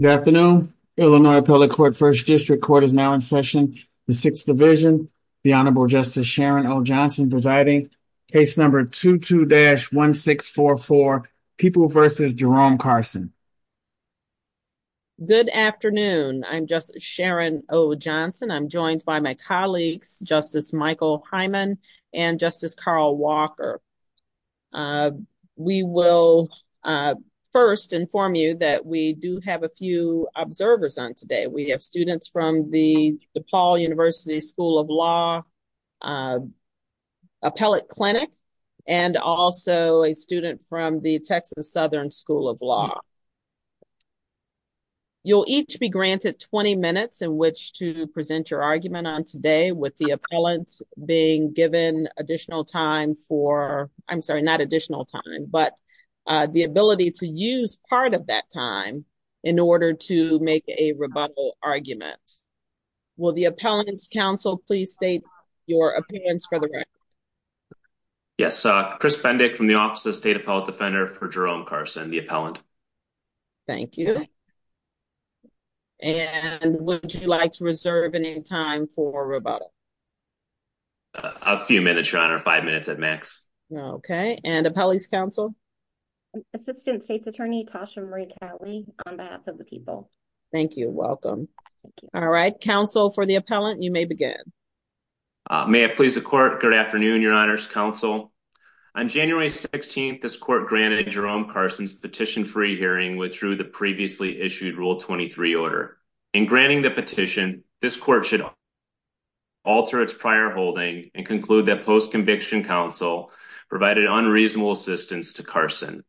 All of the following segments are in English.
Good afternoon. Illinois Appellate Court First District Court is now in session. The Sixth Division, the Honorable Justice Sharon O. Johnson presiding. Case number 22-1644, Kipou v. Jerome Carson. Good afternoon. I'm Justice Sharon O. Johnson. I'm joined by my colleagues, Justice Michael Hyman and Justice Carl Walker. We will first inform you that we do have a few observers on today. We have students from the DePaul University School of Law Appellate Clinic and also a student from the Texas Southern School of Law. You'll each be granted 20 minutes in which to present your argument on today with the appellants being given additional time for, I'm sorry, not additional time, but the ability to use part of that time in order to make a rebuttal argument. Will the appellants' counsel please state your appearance for the record? Yes. Chris Bendick from the Office of State Appellate Defender for Jerome Carson, the appellant. Thank you. And would you like to reserve any time for rebuttal? A few minutes, Your Honor. Five minutes at max. Okay. And appellees' counsel? Assistant State's Attorney Tasha Marie Catley on behalf of the people. Thank you. Welcome. All right. Counsel for the appellant, you may begin. May I please the court? Good afternoon, Your Honor's counsel. On January 16th, this court granted Jerome Carson's petition-free hearing withdrew the previously issued Rule 23 order. In granting the petition, this court should alter its prior holding and conclude that post-conviction counsel provided unreasonable assistance to Carson.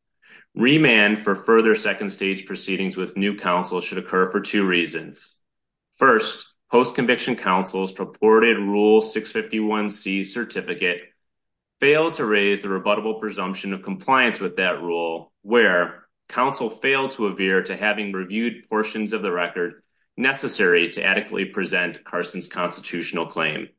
Remand for further second-stage proceedings with new counsel should occur for two reasons. First, post-conviction counsel's purported Rule 651C certificate failed to raise the rebuttable presumption of compliance with that rule where counsel failed to avere to having reviewed portions of the record necessary to adequately present Carson's constitutional claim.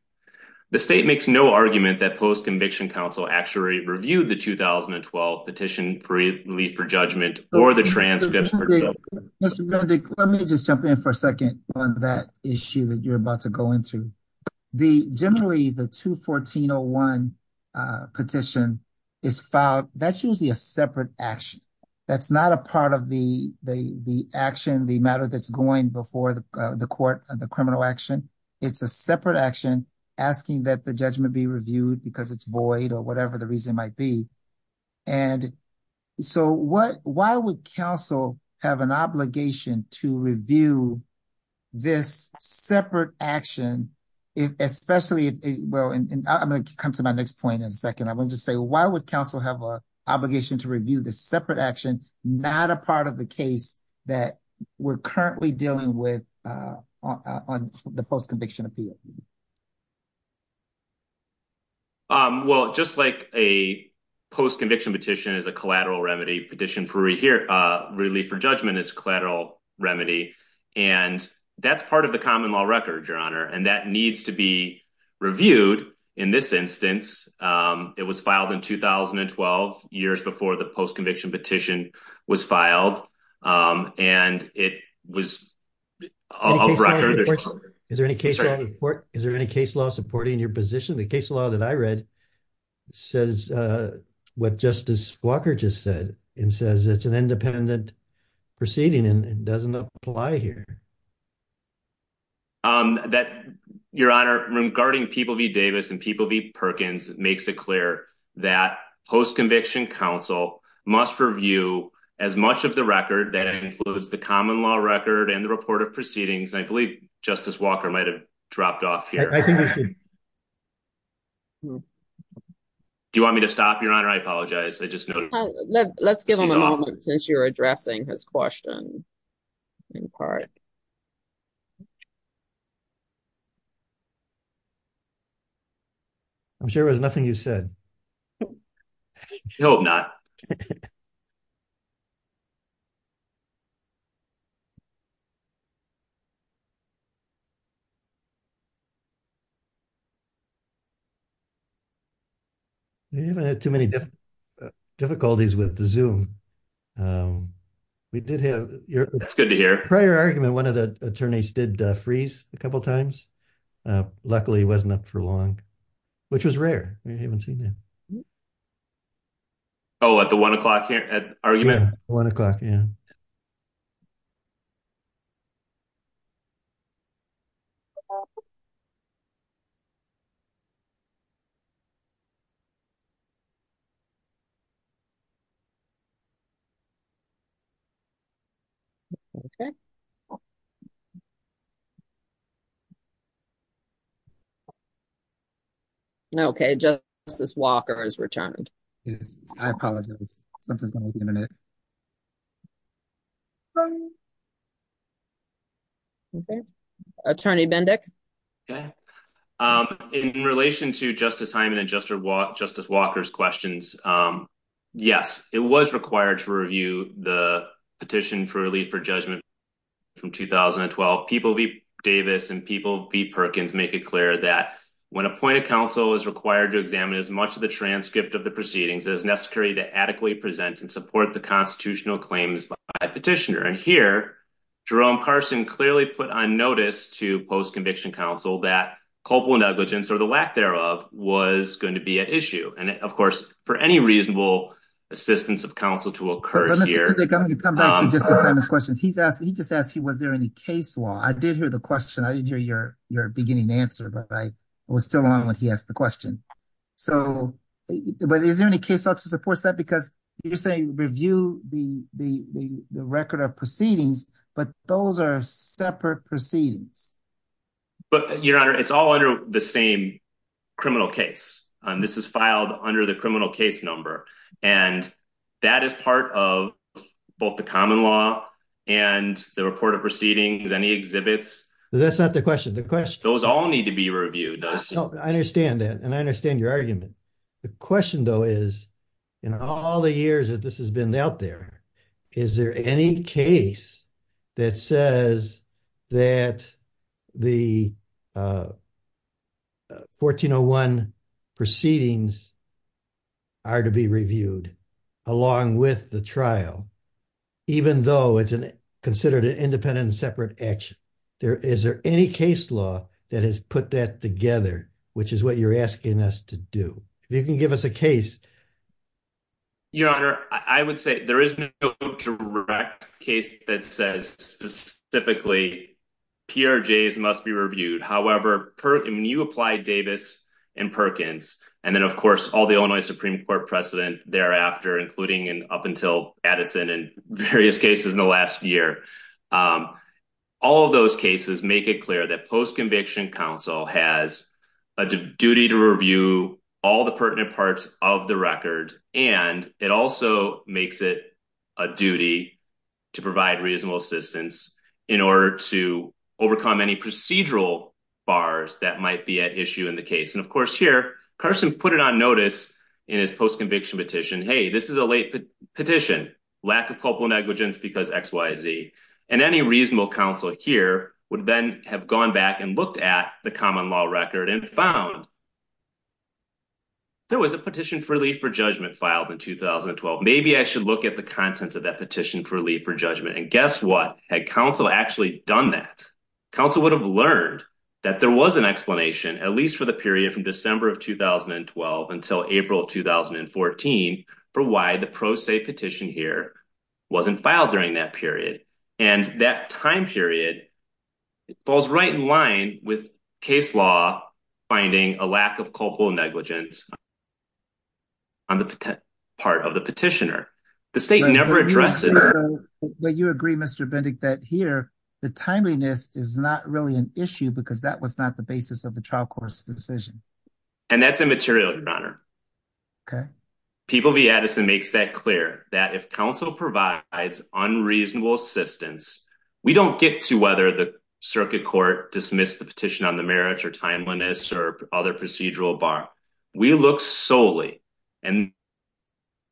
The state makes no argument that post-conviction counsel actually reviewed the 2012 petition-free relief for judgment or the transcripts. Let me just jump in for a second on that issue that you're about to go into. Generally, the 214-01 petition is filed. That's usually a separate action. That's not a part of the action, the matter that's going before the court, the criminal action. It's a separate action asking that the judgment be reviewed because it's void or whatever the reason might be. Why would counsel have an obligation to review this separate action, especially if... Well, I'm going to come to my next point in a second. I'm going to just say, why would counsel have an obligation to review this separate action, not a part of the case that we're currently dealing with on the post-conviction appeal? Well, just like a post-conviction petition is a collateral remedy, petition-free relief for judgment is collateral remedy. That's part of the common law record, Your Honor. That needs to be was filed and it was a record. Is there any case law supporting your position? The case law that I read says what Justice Walker just said and says it's an independent proceeding and it doesn't apply here. Your Honor, regarding People v. Davis and People v. Perkins, it makes it clear that post-conviction counsel must review as much of the record that includes the common law record and the report of proceedings. I believe Justice Walker might've dropped off here. Do you want me to stop, Your Honor? I apologize. Let's give him a moment since you're addressing his question in part. I'm sure there was nothing you said. I hope not. You haven't had too many difficulties with the Zoom. That's good to hear. Prior argument, one of the attorneys did freeze a couple of times. Luckily, he wasn't up for long, which was rare. We haven't seen that. Oh, at the one o'clock argument? Yeah, one o'clock, yeah. Okay. Okay, Justice Walker has returned. Yes, I apologize. Something's going on with the internet. Okay, Attorney Bendick? In relation to Justice Hyman and Justice Walker's questions, um, yes, it was required to review the petition for relief for judgment from 2012. People v. Davis and People v. Perkins make it clear that when appointed counsel is required to examine as much of the transcript of the proceedings as necessary to adequately present and support the constitutional claims by petitioner. And here, Jerome Carson clearly put on notice to post-conviction counsel that culpable negligence, or the lack thereof, was going to be at issue. And, of course, for any reasonable assistance of counsel to occur here... Mr. Bendick, I'm going to come back to Justice Hyman's questions. He just asked you, was there any case law? I did hear the question. I didn't hear your beginning answer, but I was still on when he asked the question. So, but is there any case law to support that? Because you're saying review the record of proceedings, but those are separate proceedings. But, your honor, it's all under the same criminal case. This is filed under the criminal case number and that is part of both the common law and the report of proceedings. Any exhibits? That's not the question. The question... Those all need to be reviewed. I understand that and I understand your argument. The question, though, is in all the years that this has been out there, is there any case that says that the 1401 proceedings are to be reviewed along with the trial, even though it's considered an independent and separate action? Is there any case law that has put that together, which is what you're asking us to do? If you can give us a case. Your honor, I would say there is no direct case that says specifically PRJs must be reviewed. However, when you apply Davis and Perkins and then, of course, all the Illinois Supreme Court precedent thereafter, including and up until Addison and various cases in the last year, all of those cases make it clear that post-conviction counsel has a duty to review all the pertinent parts of the record and it also makes it a duty to provide reasonable assistance in order to overcome any procedural bars that might be at issue in the case. And, of course, here, Carson put it on notice in his post-conviction petition. Hey, this is a late petition. Lack of culpable negligence because XYZ. And any reasonable counsel here would then have gone back and looked at the common law record and found there was a petition for relief for judgment filed in 2012. Maybe I should look at the contents of that petition for relief for judgment. And guess what? Had counsel actually done that, counsel would have learned that there was an explanation, at least for the period from December of 2012 until April of 2014, for why the pro se petition here wasn't filed during that period. And that time period falls right in line with case law finding a lack of culpable negligence on the part of the petitioner. The state never addressed it. But you agree, Mr. Bendick, that here the timeliness is not really an issue because that was not the basis of the trial court's decision. And that's immaterial, Your Honor. Okay. People v. Addison makes that clear, that if counsel provides unreasonable assistance, we don't get to whether the circuit court dismissed the petition on the merits or timeliness or other procedural bar. We look solely, and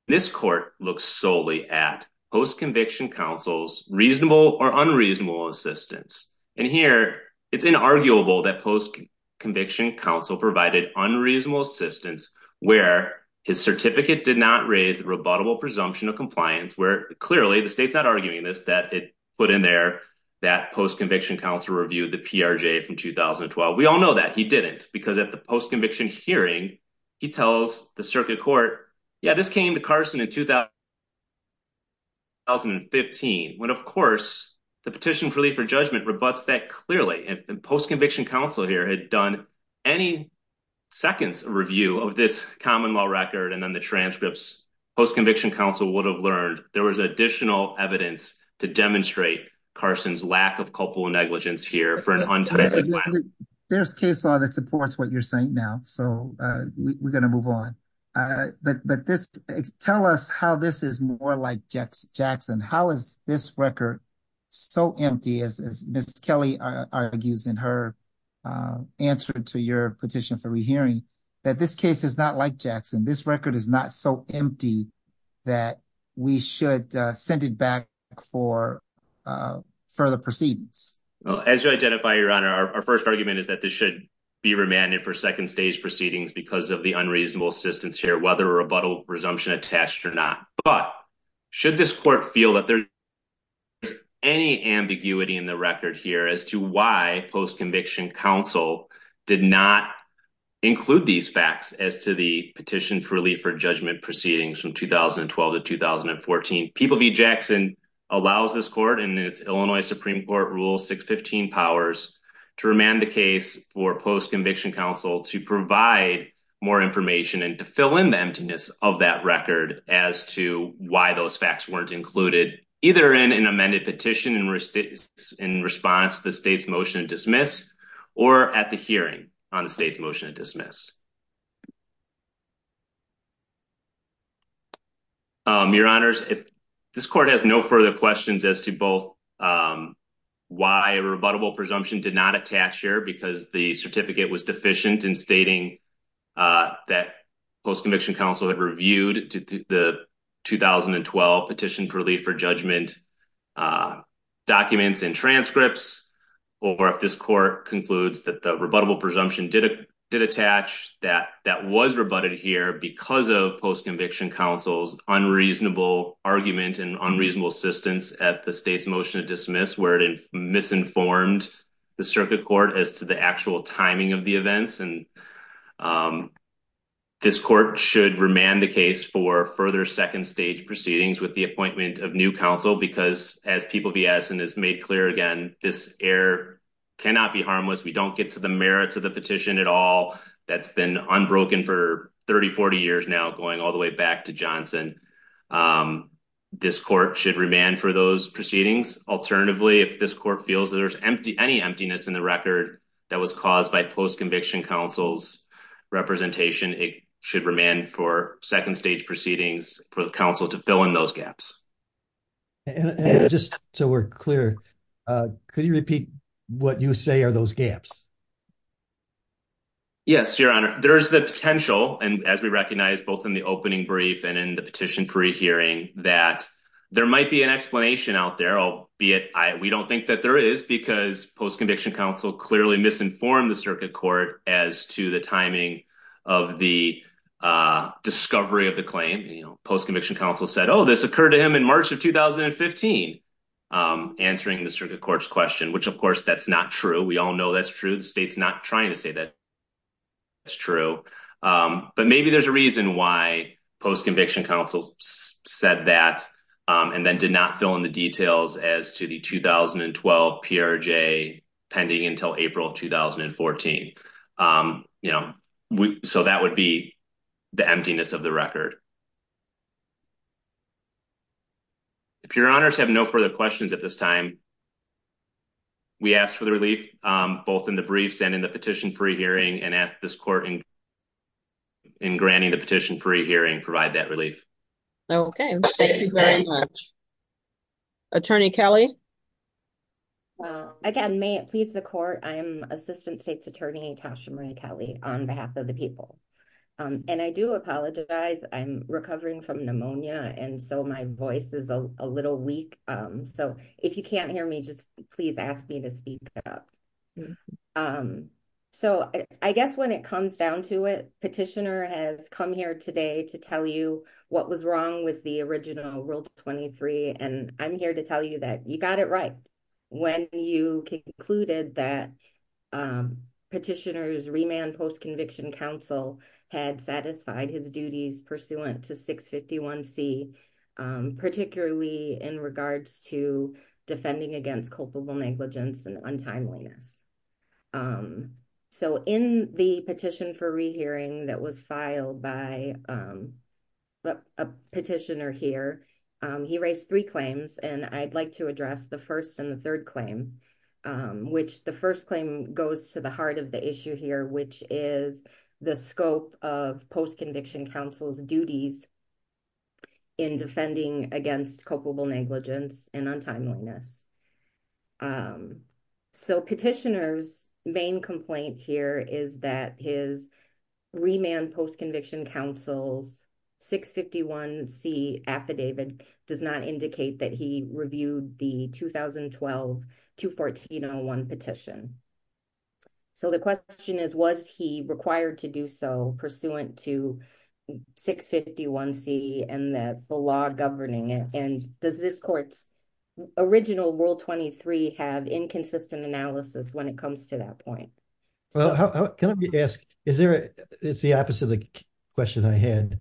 this court looks solely at post-conviction counsel's reasonable or unreasonable assistance. And here it's inarguable that post-conviction counsel provided unreasonable assistance where his certificate did not raise the rebuttable presumption of compliance, where clearly the state's not arguing this, that it put in there that post-conviction counsel reviewed the PRJ from 2012. We all know that he didn't because at the post-conviction hearing, he tells the circuit court, yeah, this came to Carson in 2015, when of course the petition for relief for judgment rebuts that clearly. And post-conviction counsel here had done any seconds review of this common law record. And then the transcripts, post-conviction counsel would have learned there was additional evidence to demonstrate Carson's lack of culpable negligence here for an untimely. There's case law that supports what you're saying now. So we're going to move on. But this, tell us how this is more like Jackson. How is this record so empty as Ms. Kelly argues in her answer to your petition for rehearing, that this case is not like Jackson. This record is not so that we should send it back for further proceedings. Well, as you identify your honor, our first argument is that this should be remanded for second stage proceedings because of the unreasonable assistance here, whether a rebuttal presumption attached or not. But should this court feel that there's any ambiguity in the record here as to why post-conviction counsel did not include these facts as to the petition for relief for judgment proceedings from 2012 to 2014. People v. Jackson allows this court and its Illinois Supreme Court rule 615 powers to remand the case for post-conviction counsel to provide more information and to fill in the emptiness of that record as to why those facts weren't included either in an amended petition in response to the state's motion to dismiss or at the hearing on the state's motion to dismiss. Your honors, if this court has no further questions as to both why a rebuttable presumption did not attach here because the certificate was deficient in stating that post-conviction counsel had reviewed the 2012 petition for relief for judgment documents and transcripts, or if this court concludes that the rebuttable presumption did attach that that was rebutted here because of post-conviction counsel's unreasonable argument and unreasonable assistance at the state's motion to dismiss where it misinformed the circuit court as to the actual timing of the events, this court should remand the case for further second stage proceedings with the appointment of new counsel because as People v. Addison has made clear again, this error cannot be harmless. We don't get to the merits of the petition at all. That's been unbroken for 30-40 years now going all the way back to Johnson. This court should remand for those proceedings. Alternatively, if this court feels there's any emptiness in the record that was caused by post-conviction counsel's representation, it should remand for second stage proceedings for the counsel to fill in those gaps. Just so we're clear, could you repeat what you say are those gaps? Yes, your honor. There's the potential, and as we recognize both in the opening brief and in the petition free hearing, that there might be an explanation out there, albeit we don't think that there is because post-conviction counsel clearly misinformed the circuit court as to the timing of the discovery of the claim. Post-conviction counsel said, oh, this occurred to him in March of 2015, answering the circuit court's question, which of course that's not true. We all know that's true. The state's not trying to say that it's true, but maybe there's a reason why post-conviction counsel said that and then did not fill in the details as to the 2012 PRJ pending until April of 2014. So that would be the emptiness of the record. If your honors have no further questions at this time, we ask for the relief, both in the briefs and in the petition free hearing, and ask this court to adjourn. Thank you very much. Attorney Kelly? Well, again, may it please the court, I am Assistant State's Attorney Tasha Marie Kelly on behalf of the people. And I do apologize, I'm recovering from pneumonia, and so my voice is a little weak. So if you can't hear me, just please ask me to speak up. So I guess when it comes down to it, Petitioner has come here today to tell you what was wrong with the original Rule 23, and I'm here to tell you that you got it right when you concluded that Petitioner's remand post-conviction counsel had satisfied his duties pursuant to 651C, particularly in regards to filed by a petitioner here. He raised three claims, and I'd like to address the first and the third claim, which the first claim goes to the heart of the issue here, which is the scope of post-conviction counsel's duties in defending against culpable negligence and untimeliness. So Petitioner's main complaint here is that his remand post-conviction counsel's 651C affidavit does not indicate that he reviewed the 2012-214-01 petition. So the question is, was he required to do so pursuant to 651C and the law governing it? And does this court's original Rule 23 have inconsistent analysis when it comes to that point? Well, can I ask, it's the opposite of the question I had.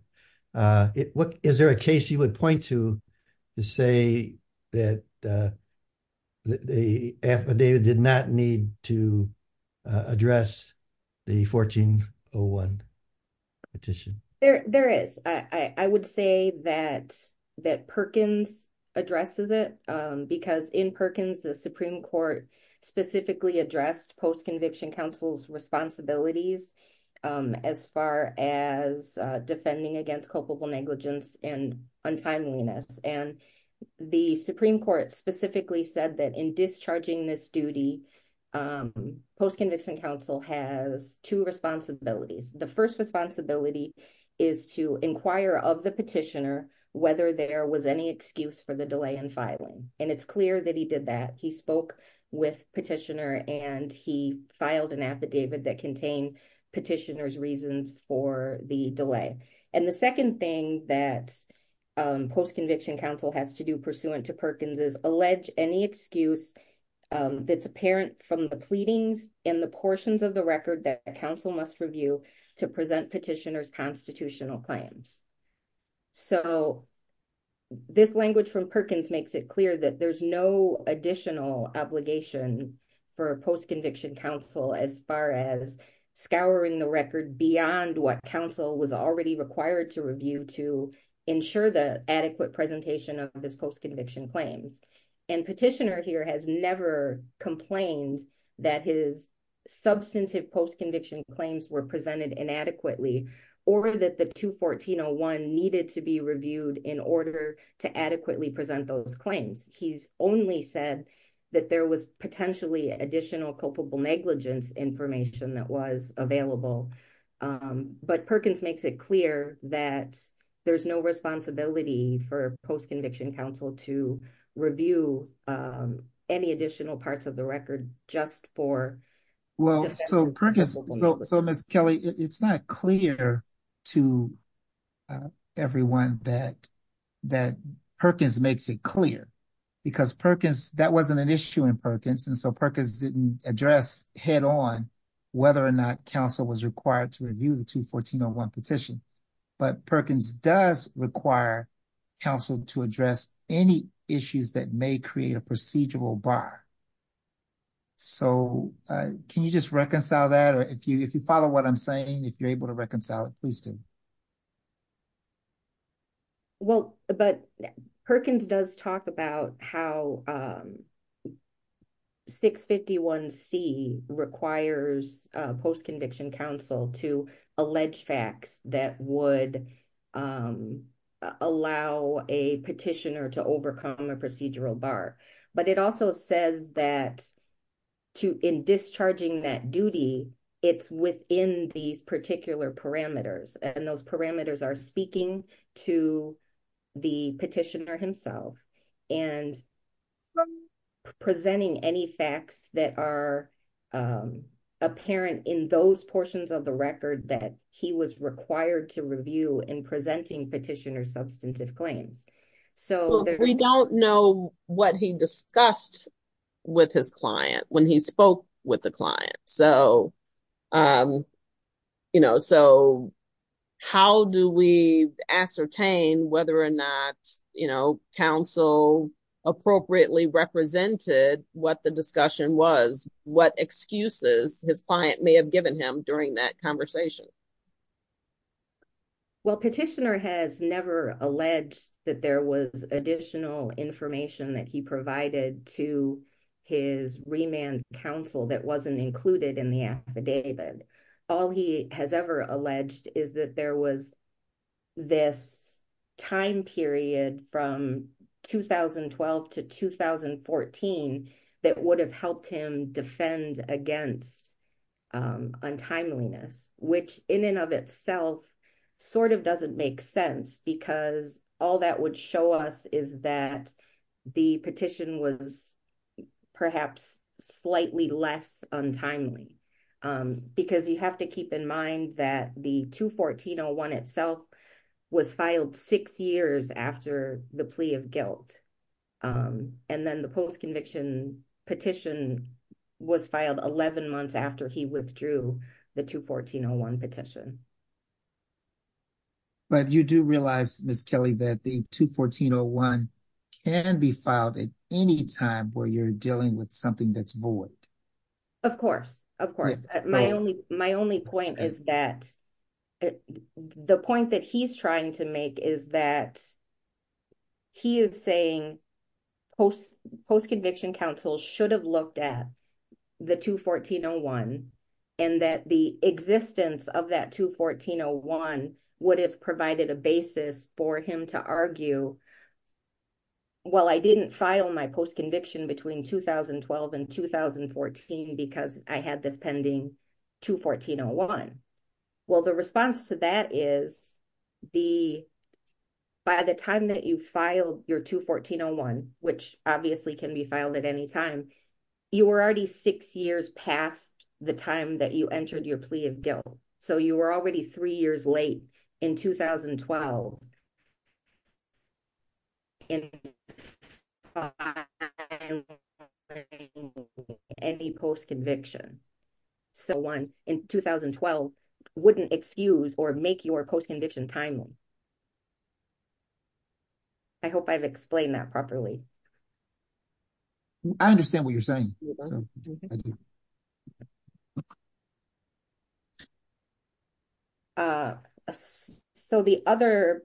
Is there a case you would point to to say that the affidavit did not need to address the 14-01 petition? There is. I would say that Perkins addresses it because in Perkins, the Supreme Court specifically addressed post-conviction counsel's responsibilities as far as defending against culpable negligence and untimeliness. And the Supreme Court specifically said that in discharging this duty, post-conviction counsel has two responsibilities. The first responsibility is to inquire of the Petitioner whether there was any excuse for the delay in filing. And it's clear that he did that. He spoke with Petitioner and he filed an affidavit that contained Petitioner's reasons for the delay. And the second thing that post-conviction counsel has to do pursuant to Perkins is allege any excuse that's apparent from the pleadings in the portions of the record that counsel must review to present Petitioner's constitutional claims. So this language from Perkins makes it clear that there's no additional obligation for post-conviction counsel as far as scouring the record beyond what counsel was already required to review to ensure the adequate presentation of his post-conviction claims. And Petitioner here has never complained that his substantive post-conviction claims were presented inadequately or that the 214-01 needed to be reviewed in order to adequately present those claims. He's only said that there was potentially additional culpable negligence information that was available. But Perkins makes it clear that there's no responsibility for post-conviction counsel to review any additional parts of the record just for... Well, so Ms. Kelly, it's not clear to everyone that Perkins makes it clear because Perkins, that wasn't an issue in Perkins and so Perkins didn't address head-on whether or not counsel was required to review the 214-01 petition. But Perkins does require counsel to address any issues that may create a procedural bar. So can you just reconcile that or if you follow what I'm saying, if you're able to reconcile it, please do. Well, but Perkins does talk about how 651C requires post-conviction counsel to allow a petitioner to overcome a procedural bar. But it also says that in discharging that duty, it's within these particular parameters and those parameters are speaking to the petitioner himself. And from presenting any facts that are apparent in those portions of the record that he was or substantive claims. We don't know what he discussed with his client when he spoke with the client. So how do we ascertain whether or not counsel appropriately represented what the discussion was, what excuses his client may have given him during that conversation? Well, petitioner has never alleged that there was additional information that he provided to his remand counsel that wasn't included in the affidavit. All he has ever alleged is that there was this time period from 2012 to 2014 that would have helped him defend against untimeliness, which in and of itself sort of doesn't make sense because all that would show us is that the petition was perhaps slightly less untimely. Because you have to keep in mind that the 214-01 itself was filed six years after the plea of guilt. And then the post-conviction petition was filed 11 months after he withdrew the 214-01 petition. But you do realize, Ms. Kelly, that the 214-01 can be filed at any time where you're dealing with something that's void. Of course, of course. My only point is that at the point that he's trying to make is that he is saying post-conviction counsel should have looked at the 214-01 and that the existence of that 214-01 would have provided a basis for him to argue, well, I didn't file my post-conviction between 2012 and 2014 because I had this pending 214-01. Well, the response to that is by the time that you filed your 214-01, which obviously can be filed at any time, you were already six years past the time that you entered your plea of guilt. So you were already three years late in 2012. Any post-conviction so in 2012 wouldn't excuse or make your post-conviction timely. I hope I've explained that properly. I understand what you're saying. Yeah. So the other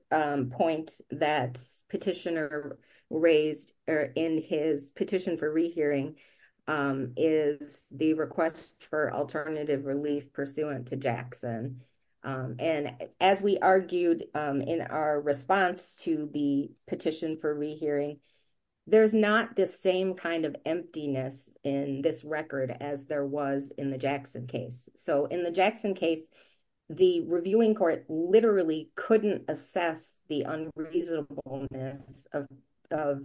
point that petitioner raised in his petition for rehearing is the request for alternative relief pursuant to Jackson. And as we argued in our response to the petition for rehearing, there's not the same kind of emptiness in this record as there was in the Jackson case. So in the Jackson case, the reviewing court literally couldn't assess the unreasonableness of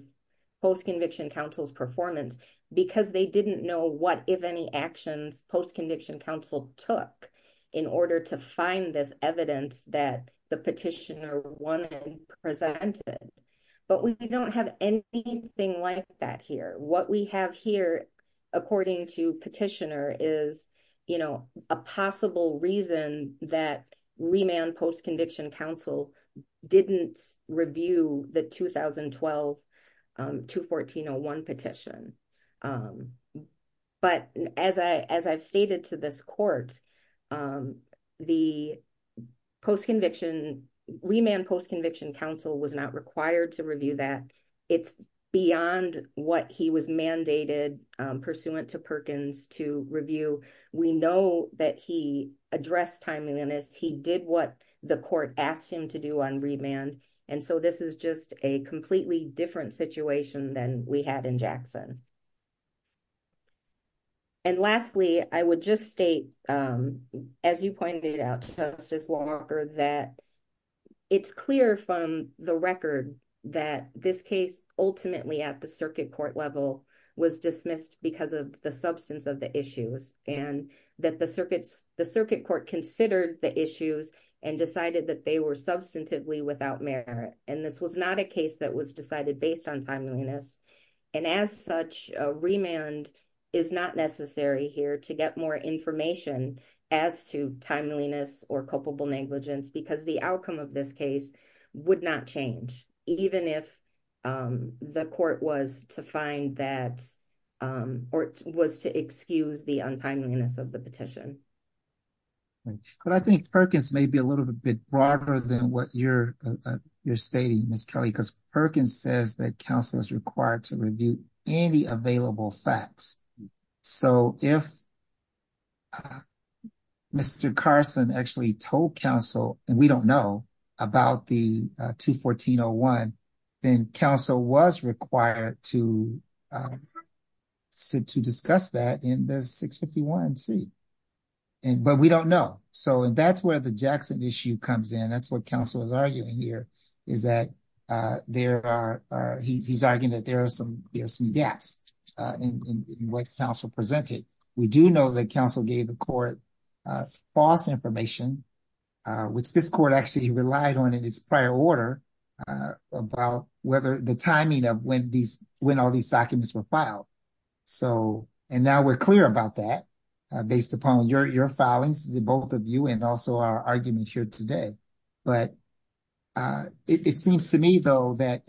post-conviction counsel's performance because they didn't know what, if any, actions post-conviction counsel took in order to find this evidence that the petitioner wanted presented. But we don't have anything like that here. What we have here, according to petitioner, is a possible reason that remand post-conviction counsel didn't review the 2012-214-01 petition. But as I've stated to this court, the remand post-conviction counsel was not required to We know that he addressed timeliness. He did what the court asked him to do on remand. And so this is just a completely different situation than we had in Jackson. And lastly, I would just state, as you pointed out, Justice Walker, that it's clear from the record that this case ultimately at the circuit court level was dismissed because of the substance of the issues and that the circuit court considered the issues and decided that they were substantively without merit. And this was not a case that was decided based on timeliness. And as such, a remand is not necessary here to get more information as to timeliness or culpable negligence because the outcome of this case would not change even if the court was to find that or was to excuse the untimeliness of the petition. But I think Perkins may be a little bit broader than what you're stating, Ms. Kelly, because Perkins says that counsel is required to review any available facts. So if Mr. Carson actually told counsel, and we don't know, about the 214-01, then counsel was required to discuss that in the 651-C. But we don't know. So that's where the Jackson issue comes in. That's what counsel is arguing here, is that he's arguing that there are some gaps in what counsel presented. We do know that counsel gave the court false information, which this court actually relied on in its prior order, about whether the timing of when all these documents were filed. So, and now we're clear about that based upon your filings, the both of you, and also our argument here today. But it seems to me, though, that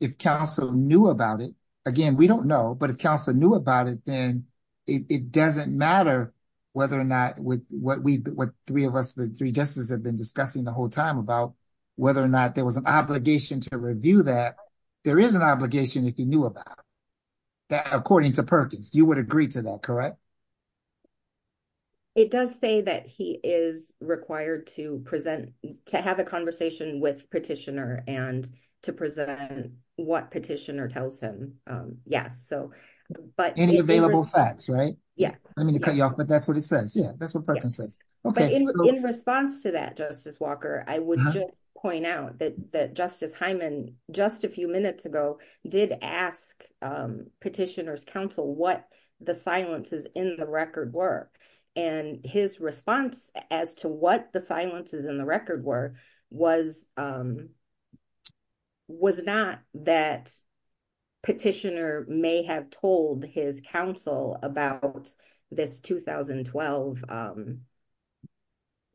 if counsel knew about it, again, we don't know, but if counsel knew about it, then it doesn't matter whether or not what we, what three of us, the three justices have been discussing the whole time about whether or not there was an obligation to review that. There is an obligation if you knew about that, according to Perkins, you would agree to that, correct? It does say that he is required to present, to have a conversation with the petitioner, tells him, yes. So, but any available facts, right? Yeah. I mean, to cut you off, but that's what it says. Yeah, that's what Perkins says. Okay. In response to that, Justice Walker, I would just point out that Justice Hyman, just a few minutes ago, did ask petitioner's counsel what the silences in the record were. And his response as to what the silences in the record were was not that petitioner may have told his counsel about this 2012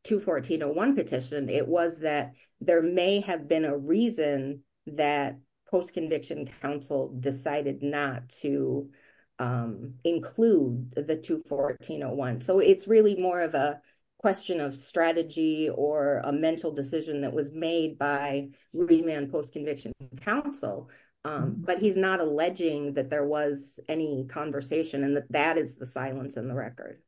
214-01 petition. It was that there may have been a reason that post-conviction counsel decided not to include the 214-01. So, it's really more of a question of strategy or a mental decision that was made by Rubinman post-conviction counsel, but he's not alleging that there was any conversation and that that is the silence in the record.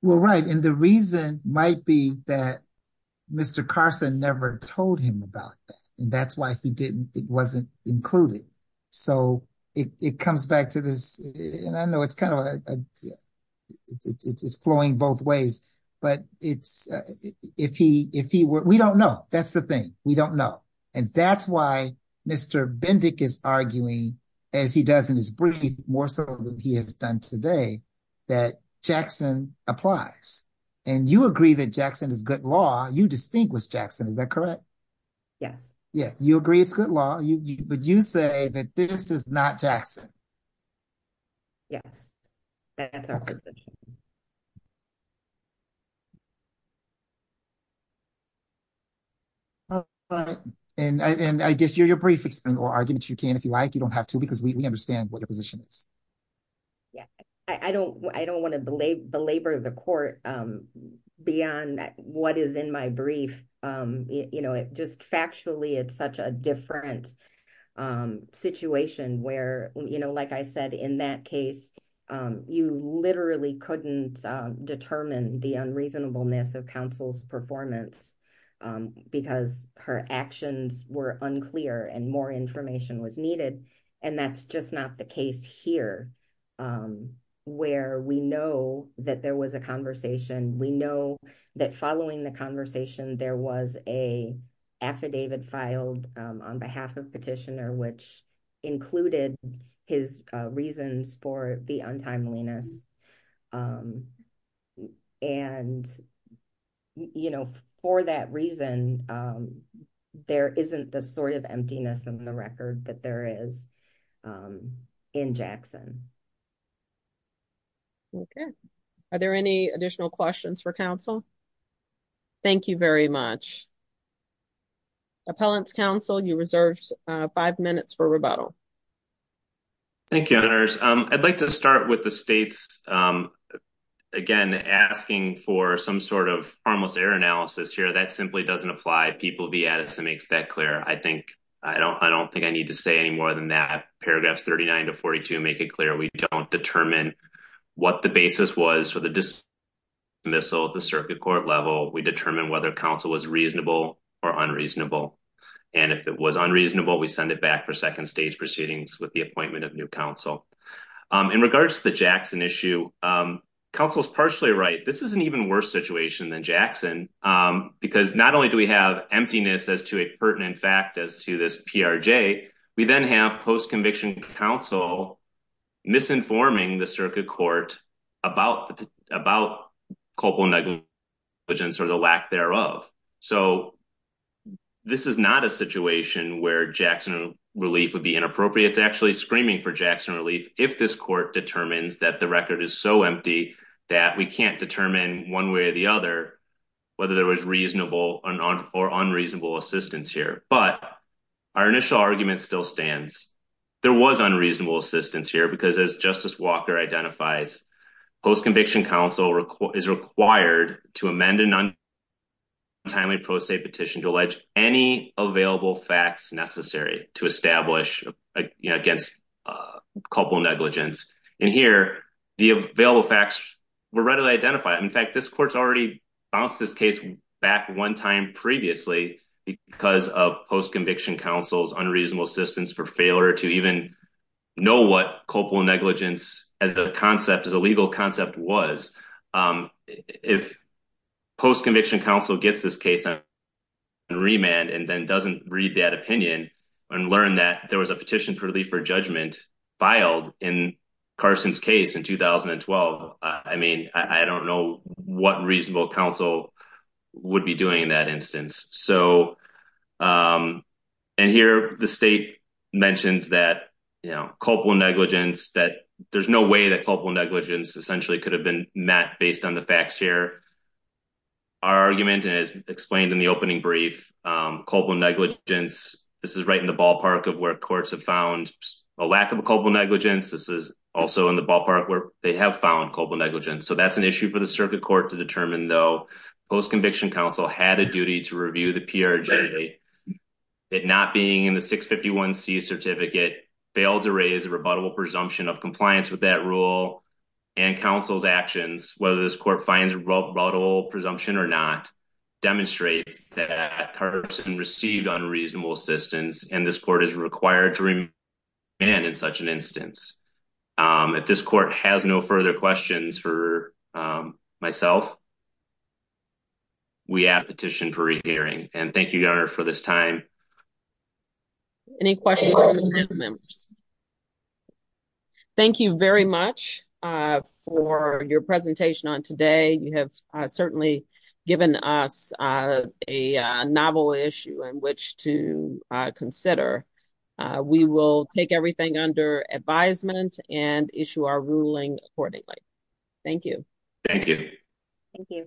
Well, right. And the reason might be that Mr. Carson never told him about that. And that's why he didn't, it wasn't included. So, it comes back to this, and I know it's kind of, it's flowing both ways, but it's, if he were, we don't know. That's the thing. We don't know. And that's why Mr. Bendick is arguing, as he does in his brief, more so than he has done today, that Jackson applies. And you agree that Jackson is good law. You distinguish Jackson. Is that correct? Yes. Yeah. You agree it's good law, but you say that this is not Jackson. Yes. That's our position. And I guess you're, your brief explain, or argue that you can, if you like. You don't have to, because we understand what your position is. Yeah. I don't want to belabor the court beyond what is in my brief. It just factually, it's such a different situation where, like I said, in that case, you literally couldn't determine the unreasonableness of counsel's performance because her actions were unclear and more information was needed. And that's just not the case here, where we know that there was a conversation. We know that following the conversation, there was a affidavit filed on behalf of petitioner, which included his reasons for the untimeliness. And, you know, for that reason, there isn't the sort of emptiness in the record that there is in Jackson. Okay. Are there any additional questions for counsel? Thank you very much. Appellant's counsel, you reserved five minutes for rebuttal. Thank you. I'd like to start with the states. Again, asking for some sort of harmless error here. That simply doesn't apply. I don't think I need to say any more than that. Paragraphs 39 to 42 make it clear. We don't determine what the basis was for the dismissal at the circuit court level. We determine whether counsel was reasonable or unreasonable. And if it was unreasonable, we send it back for second stage proceedings with the appointment of new counsel. In regards to the Jackson issue, counsel is partially right. This is an even worse situation than Jackson because not only do we have emptiness as to a pertinent fact as to this PRJ, we then have post-conviction counsel misinforming the circuit court about culpable negligence or the lack thereof. So this is not a situation where Jackson relief would be inappropriate. It's actually screaming for Jackson relief if this court determines that the record is empty that we can't determine one way or the other whether there was reasonable or unreasonable assistance here. But our initial argument still stands. There was unreasonable assistance here because as Justice Walker identifies, post-conviction counsel is required to amend an untimely pro se petition to allege any available facts necessary to establish against culpable negligence. And here, the available facts were readily identified. In fact, this court's already bounced this case back one time previously because of post-conviction counsel's unreasonable assistance for failure to even know what culpable negligence as a concept, as a legal concept was. If post-conviction counsel gets this case on remand and then doesn't read that opinion and learn that there was a petition for relief for judgment filed in Carson's case in 2012, I mean, I don't know what reasonable counsel would be doing in that instance. And here, the state mentions that, you know, culpable negligence that there's no way that culpable negligence essentially could have been met based on the facts here. Our argument, and as explained in the opening brief, culpable negligence, this is right in the ballpark of where courts have found a lack of culpable negligence. This is also in the ballpark where they have found culpable negligence. So that's an issue for the circuit court to determine, though. Post-conviction counsel had a duty to review the PRJ that not being in the 651C certificate failed to raise a rebuttable presumption of compliance with that rule and counsel's actions, whether this court finds rebuttable presumption or not, demonstrates that Carson received unreasonable assistance and this court is required to remand in such an instance. If this court has no further questions for myself, we ask petition for a hearing. And thank you, Your Honor, for this time. Any questions from the panel members? Thank you very much for your presentation on today. You have certainly given us a novel issue in which to consider. We will take everything under advisement and issue our ruling accordingly. Thank you. Thank you. Thank you.